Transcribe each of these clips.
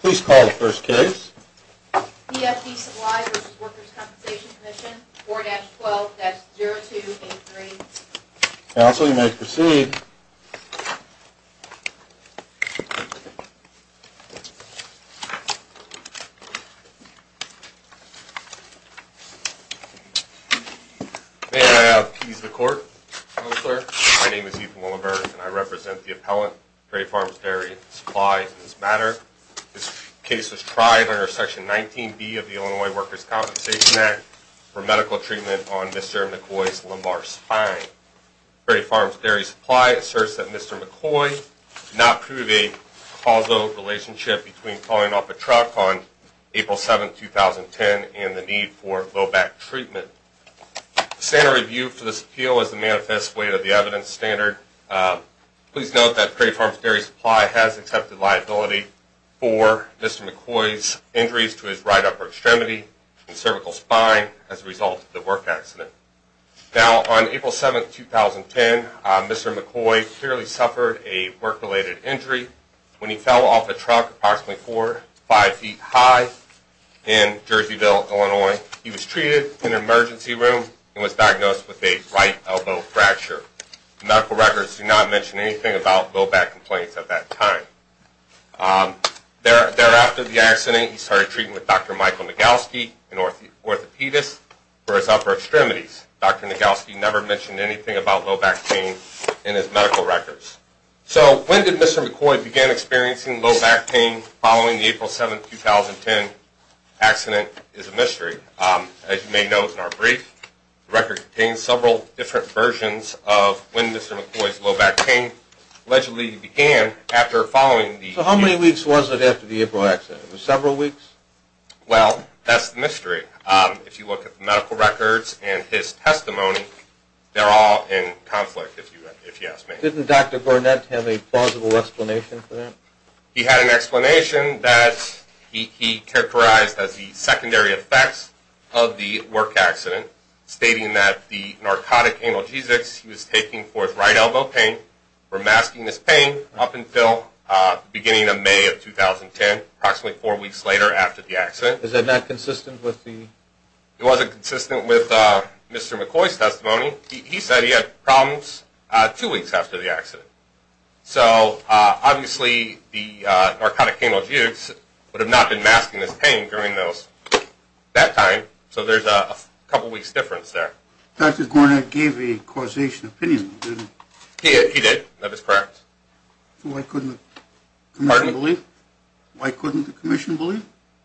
Please call the first case. P.F.D. Supply v. Workers' Compensation Comm'n 4-12-0283. Counsel, you may proceed. May I appease the court, Counselor? My name is Ethan Willenberg, and I represent the appellant, Perry Farms Dairy Supply, in this matter. This case was tried under Section 19B of the Illinois Workers' Compensation Act for medical treatment on Mr. McCoy's lumbar spine. Perry Farms Dairy Supply asserts that Mr. McCoy did not prove a causal relationship between pulling off a truck on April 7, 2010, and the need for low-back treatment. The standard review for this appeal is the manifest weight of the evidence standard. Please note that Perry Farms Dairy Supply has accepted liability for Mr. McCoy's injuries to his right upper extremity and cervical spine as a result of the work accident. Now, on April 7, 2010, Mr. McCoy clearly suffered a work-related injury. When he fell off a truck approximately four or five feet high in Jerseyville, Illinois, he was treated in an emergency room and was diagnosed with a right elbow fracture. Medical records do not mention anything about low-back complaints at that time. Thereafter, the accident, he started treating with Dr. Michael Nagelsky, an orthopedist, for his upper extremities. Dr. Nagelsky never mentioned anything about low-back pain in his medical records. So when did Mr. McCoy begin experiencing low-back pain following the April 7, 2010 accident is a mystery. As you may know from our brief, the record contains several different versions of when Mr. McCoy's low-back pain allegedly began after following the- So how many weeks was it after the April accident? Was it several weeks? Well, that's the mystery. If you look at the medical records and his testimony, they're all in conflict, if you ask me. Didn't Dr. Burnett have a plausible explanation for that? He had an explanation that he characterized as the secondary effects of the work accident, stating that the narcotic analgesics he was taking for his right elbow pain were masking his pain up until the beginning of May of 2010, approximately four weeks later after the accident. Is that not consistent with the- It wasn't consistent with Mr. McCoy's testimony. He said he had problems two weeks after the accident. So obviously, the narcotic analgesics would have not been masking his pain during that time. So there's a couple weeks difference there. Dr. Burnett gave a causation opinion, didn't he? He did. That is correct. Why couldn't the commission believe?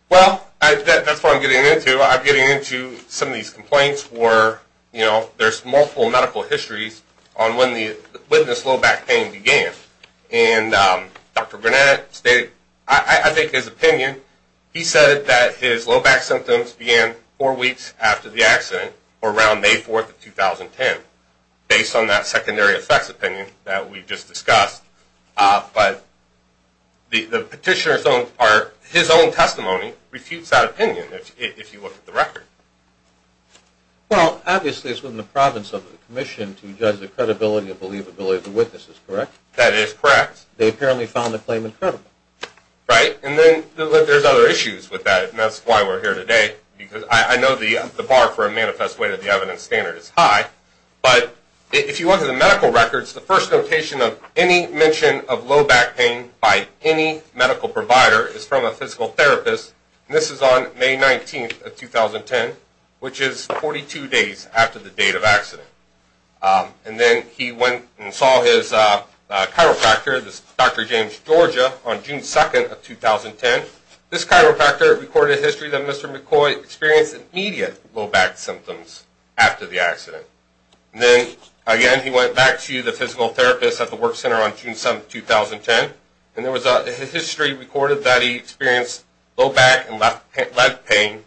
Well, that's what I'm getting into. I'm getting into some of these complaints where there's multiple medical histories on when this low-back pain began. And Dr. Burnett stated, I think his opinion, he said that his low-back symptoms began four weeks after the accident, or around May 4th of 2010, based on that secondary effects opinion that we just discussed. But the petitioner's own testimony refutes that opinion, if you look at the record. Well, obviously, it's within the province of the commission to judge the credibility and believability of the witnesses, correct? That is correct. They apparently found the claim incredible. Right, and then there's other issues with that, and that's why we're here today, because I know the bar for a manifest way to the evidence standard is high. But if you look at the medical records, the first notation of any mention of low-back pain by any medical provider is from a physical therapist. And this is on May 19th of 2010, which is 42 days after the date of accident. And then he went and saw his chiropractor, this Dr. James Georgia, on June 2nd of 2010. This chiropractor recorded a history that Mr. McCoy experienced immediate low-back symptoms after the accident. And then, again, he went back to the physical therapist at the work center on June 7th, 2010, and there was a history recorded that he experienced low-back and left leg pain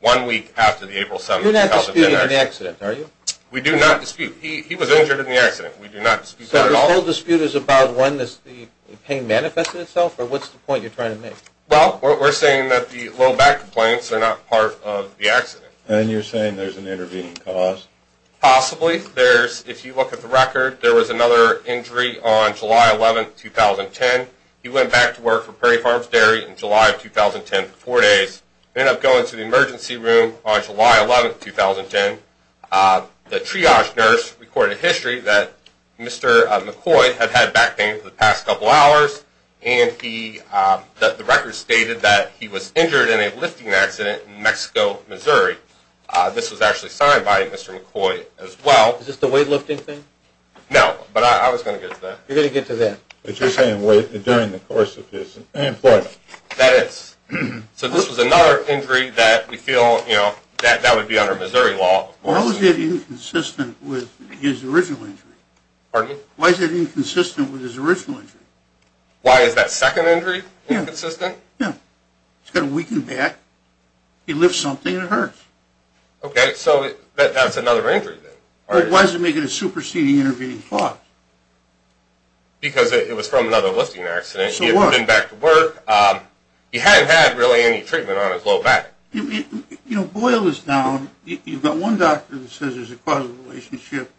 one week after the April 7th accident. We do not dispute. He was injured in the accident. We do not dispute that at all. So the whole dispute is about when the pain manifested itself, or what's the point you're trying to make? Well, we're saying that the low-back complaints are not part of the accident. And you're saying there's an intervening cause? Possibly. If you look at the record, there was another injury on July 11th, 2010. He went back to work for Prairie Farms Dairy in July of 2010 for four days, ended up going to the emergency room on July 11th, 2010. The triage nurse recorded a history that Mr. McCoy had had back pain for the past couple hours, and the record stated that he was injured in a lifting accident in Mexico, Missouri. This was actually signed by Mr. McCoy as well. Is this the weightlifting thing? No, but I was going to get to that. You're going to get to that. But you're saying during the course of his employment. That is. So this was another injury that we feel, you know, that would be under Missouri law. Why was it inconsistent with his original injury? Pardon me? Why is it inconsistent with his original injury? Why is that second injury inconsistent? Yeah. He's got a weakened back. He lifts something and it hurts. Okay, so that's another injury then. Why is it making a superseding intervening cause? Because it was from another lifting accident. So what? He had been back to work. He hadn't had really any treatment on his low back. You know, boil this down. You've got one doctor that says there's a causal relationship.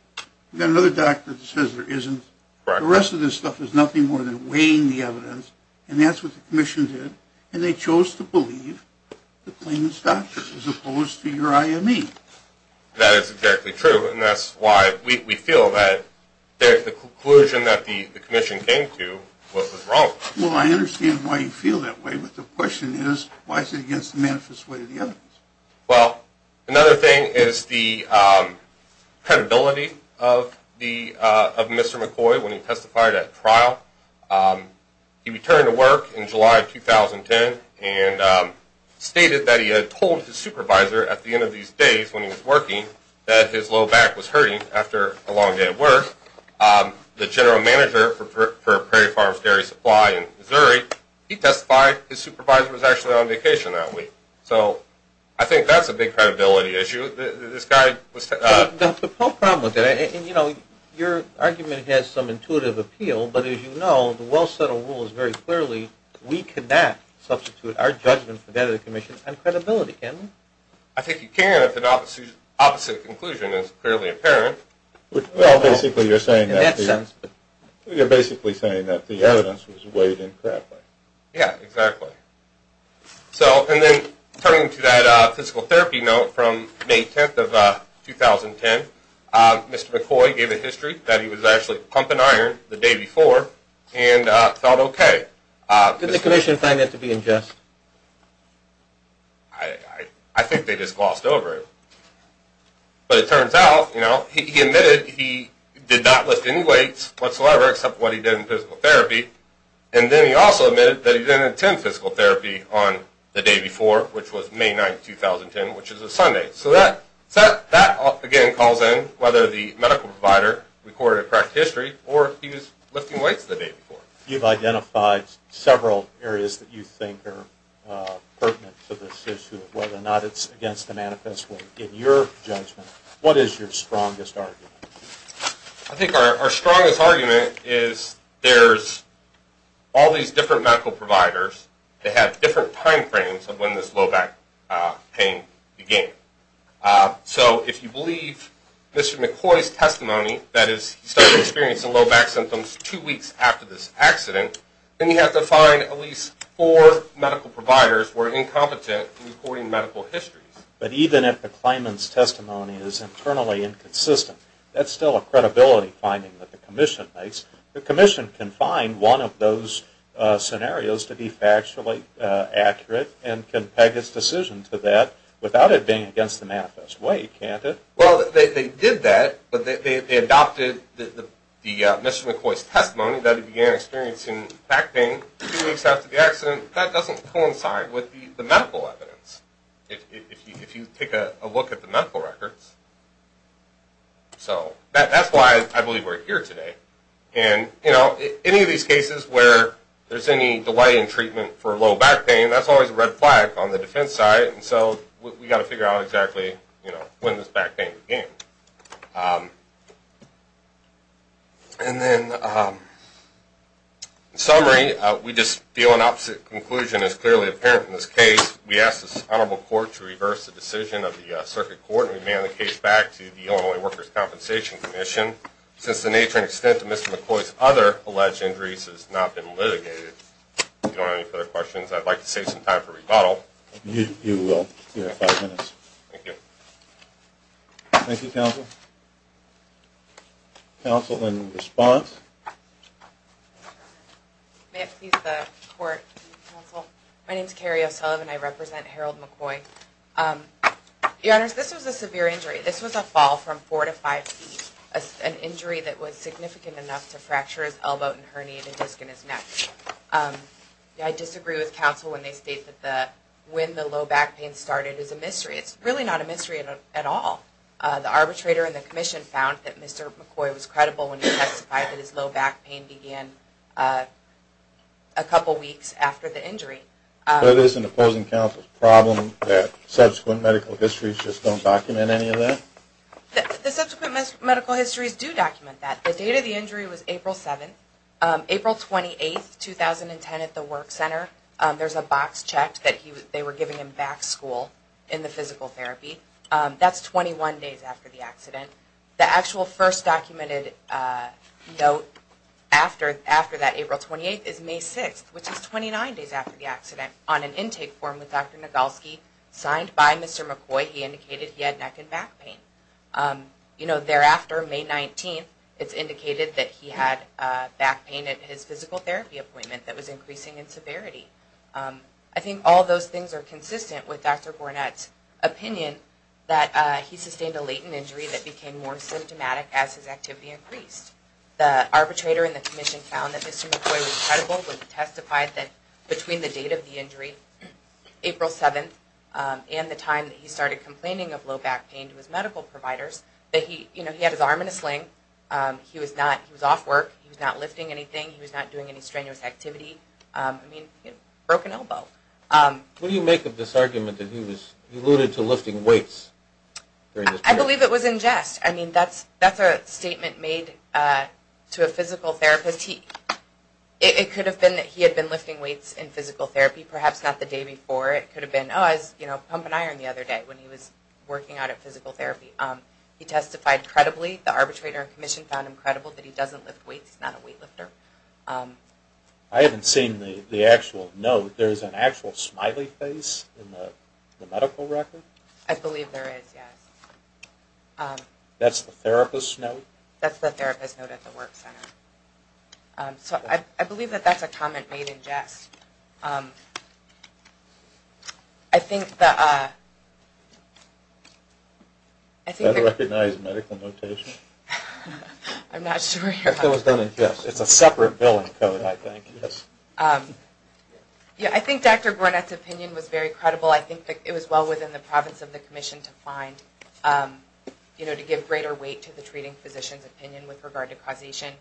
You've got another doctor that says there isn't. The rest of this stuff is nothing more than weighing the evidence, and that's what the commission did, and they chose to believe the claimant's doctor as opposed to your IME. That is exactly true, and that's why we feel that the conclusion that the commission came to was wrong. Well, I understand why you feel that way, but the question is why is it against the manifest way of the evidence? Well, another thing is the credibility of Mr. McCoy when he testified at trial. He returned to work in July of 2010 and stated that he had told his supervisor at the end of these days when he was working that his low back was hurting after a long day at work. The general manager for Prairie Farms Dairy Supply in Missouri, he testified his supervisor was actually on vacation that week. So I think that's a big credibility issue. The whole problem with that, and, you know, your argument has some intuitive appeal, but as you know, the well-settled rule is very clearly we cannot substitute our judgment for that of the commission on credibility, can we? I think you can if the opposite conclusion is clearly apparent. Well, basically you're saying that the evidence was weighed incorrectly. Yeah, exactly. And then turning to that physical therapy note from May 10th of 2010, Mr. McCoy gave a history that he was actually pumping iron the day before and felt okay. Did the commission find that to be unjust? I think they just glossed over it. But it turns out, you know, he admitted he did not lift any weights whatsoever except what he did in physical therapy, and then he also admitted that he didn't attend physical therapy on the day before, which was May 9th, 2010, which is a Sunday. So that, again, calls in whether the medical provider recorded a correct history or if he was lifting weights the day before. You've identified several areas that you think are pertinent to this issue, whether or not it's against the manifest weight. In your judgment, what is your strongest argument? I think our strongest argument is there's all these different medical providers that have different time frames of when this low back pain began. So if you believe Mr. McCoy's testimony, that is he started experiencing low back symptoms two weeks after this accident, then you have to find at least four medical providers were incompetent in recording medical histories. But even if the claimant's testimony is internally inconsistent, that's still a credibility finding that the commission makes. The commission can find one of those scenarios to be factually accurate and can peg its decision to that without it being against the manifest weight, can't it? The testimony that he began experiencing back pain two weeks after the accident, that doesn't coincide with the medical evidence, if you take a look at the medical records. So that's why I believe we're here today. And, you know, any of these cases where there's any delay in treatment for low back pain, that's always a red flag on the defense side, and so we've got to figure out exactly, you know, when this back pain began. And then, in summary, we just feel an opposite conclusion is clearly apparent in this case. We ask this honorable court to reverse the decision of the circuit court and remand the case back to the Illinois Workers' Compensation Commission, since the nature and extent of Mr. McCoy's other alleged injuries has not been litigated. If you don't have any further questions, I'd like to save some time for rebuttal. You will. You have five minutes. Thank you. Thank you, counsel. Counsel in response. May it please the court, counsel. My name is Carrie O'Sullivan. I represent Harold McCoy. Your Honors, this was a severe injury. This was a fall from four to five feet, an injury that was significant enough to fracture his elbow and herniate a disc in his neck. I disagree with counsel when they state that when the low back pain started is a mystery. It's really not a mystery at all. The arbitrator in the commission found that Mr. McCoy was credible when he testified that his low back pain began a couple weeks after the injury. But isn't opposing counsel's problem that subsequent medical histories just don't document any of that? The subsequent medical histories do document that. The date of the injury was April 7th. April 28th, 2010 at the work center, there's a box checked that they were giving him back school in the physical therapy. That's 21 days after the accident. The actual first documented note after that, April 28th, is May 6th, which is 29 days after the accident on an intake form with Dr. Nagulski, signed by Mr. McCoy. He indicated he had neck and back pain. Thereafter, May 19th, it's indicated that he had back pain at his physical therapy appointment that was increasing in severity. I think all those things are consistent with Dr. Gornett's opinion that he sustained a latent injury that became more symptomatic as his activity increased. The arbitrator in the commission found that Mr. McCoy was credible when he testified that between the date of the injury, April 7th, and the time that he started complaining of low back pain to his medical providers, that he had his arm in a sling. He was off work. He was not lifting anything. He was not doing any strenuous activity. I mean, he broke an elbow. What do you make of this argument that he alluded to lifting weights during this period? I believe it was in jest. I mean, that's a statement made to a physical therapist. It could have been that he had been lifting weights in physical therapy, perhaps not the day before. It could have been, oh, I was pumping iron the other day when he was working out at physical therapy. He testified credibly. The arbitrator in the commission found him credible that he doesn't lift weights. He's not a weight lifter. I haven't seen the actual note. There is an actual smiley face in the medical record? I believe there is, yes. That's the therapist's note? That's the therapist's note at the work center. So I believe that that's a comment made in jest. I think that... Is that a recognized medical notation? I'm not sure. It's a separate billing code, I think. I think Dr. Gornet's opinion was very credible. I think it was well within the province of the commission to find, you know, to give greater weight to the treating physician's opinion with regard to causation.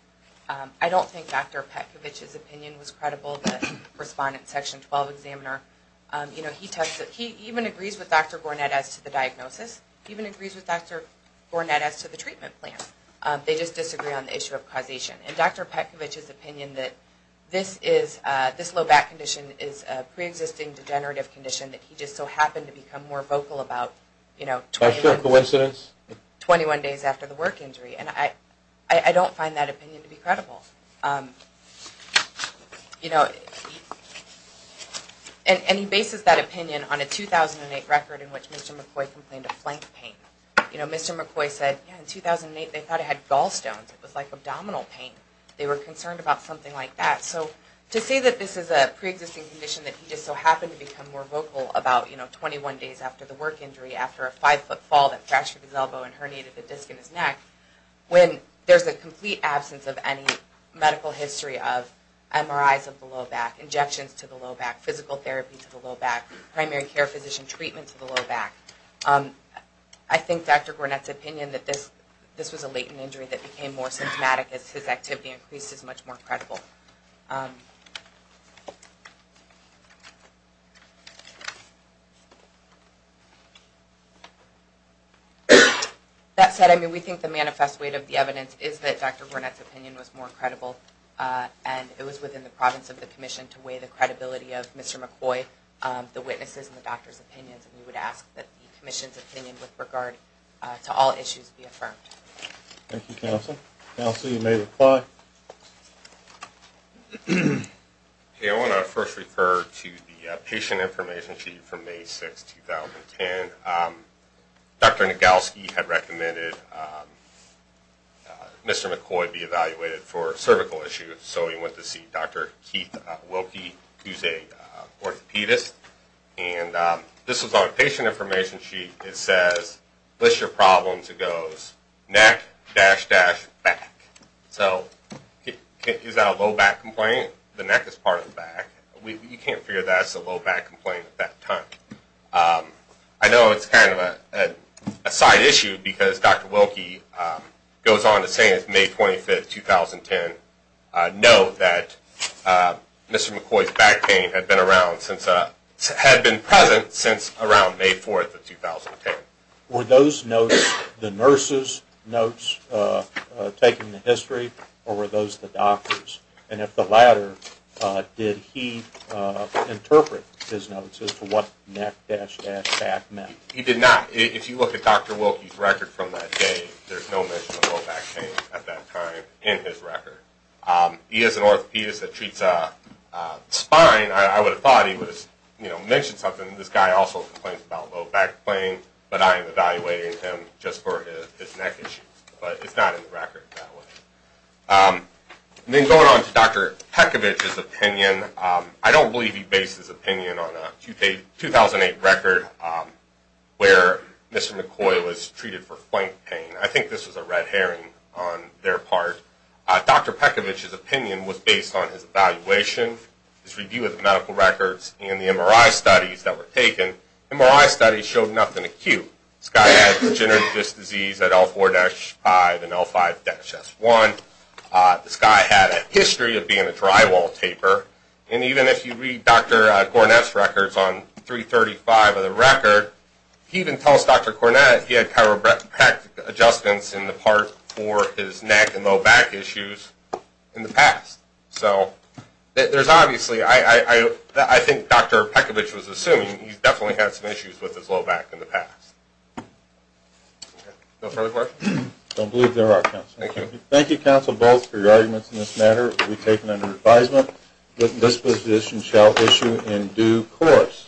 I don't think Dr. Petkovich's opinion was credible. The respondent, Section 12 examiner, he even agrees with Dr. Gornet as to the diagnosis. He even agrees with Dr. Gornet as to the treatment plan. They just disagree on the issue of causation. And Dr. Petkovich's opinion that this low back condition is a preexisting degenerative condition that he just so happened to become more vocal about 21 days after the work injury. And I don't find that opinion to be credible. You know... And he bases that opinion on a 2008 record in which Mr. McCoy complained of flank pain. You know, Mr. McCoy said, yeah, in 2008 they thought it had gallstones. It was like abdominal pain. They were concerned about something like that. So to say that this is a preexisting condition that he just so happened to become more vocal about, you know, 21 days after the work injury, after a five-foot fall that fractured his elbow and herniated the disc in his neck, when there's a complete absence of any medical history of MRIs of the low back, injections to the low back, physical therapy to the low back, primary care physician treatment to the low back. I think Dr. Gornet's opinion that this was a latent injury that became more symptomatic as his activity increased is much more credible. That said, I mean, we think the manifest weight of the evidence is that Dr. Gornet's opinion was more credible. And it was within the province of the commission to weigh the credibility of Mr. McCoy, the witnesses, and the doctor's opinions. And we would ask that the commission's opinion with regard to all issues be affirmed. Thank you, counsel. Counsel, you may reply. Okay, I want to first refer to the patient information sheet from May 6, 2010. Dr. Nagelsky had recommended Mr. McCoy be evaluated for cervical issues, so we went to see Dr. Keith Wilkie, who's an orthopedist. And this was on a patient information sheet. It says, list your problems. It goes neck, dash, dash, back. So is that a low back complaint? The neck is part of the back. You can't figure that's a low back complaint at that time. I know it's kind of a side issue because Dr. Wilkie goes on to say it's May 25, 2010. Note that Mr. McCoy's back pain had been present since around May 4, 2010. Were those notes the nurse's notes taking the history, or were those the doctor's? And if the latter, did he interpret his notes as to what neck, dash, dash, back meant? He did not. If you look at Dr. Wilkie's record from that day, there's no mention of low back pain at that time in his record. He is an orthopedist that treats spine. I would have thought he would have mentioned something. This guy also complains about low back pain, but I am evaluating him just for his neck issues. But it's not in the record that way. Then going on to Dr. Pekovich's opinion, I don't believe he based his opinion on a 2008 record where Mr. McCoy was treated for flank pain. I think this was a red herring on their part. Dr. Pekovich's opinion was based on his evaluation, his review of the medical records, and the MRI studies that were taken. MRI studies showed nothing acute. This guy had degenerative disc disease at L4-5 and L5-S1. This guy had a history of being a drywall taper. And even if you read Dr. Cornett's records on 335 of the record, he even tells Dr. Cornett he had chiropractic adjustments in the part for his neck and low back issues in the past. Obviously, I think Dr. Pekovich was assuming he definitely had some issues with his low back in the past. No further questions? I don't believe there are, counsel. Thank you. Thank you, counsel, both, for your arguments in this matter. It will be taken under advisement that this position shall issue in due course.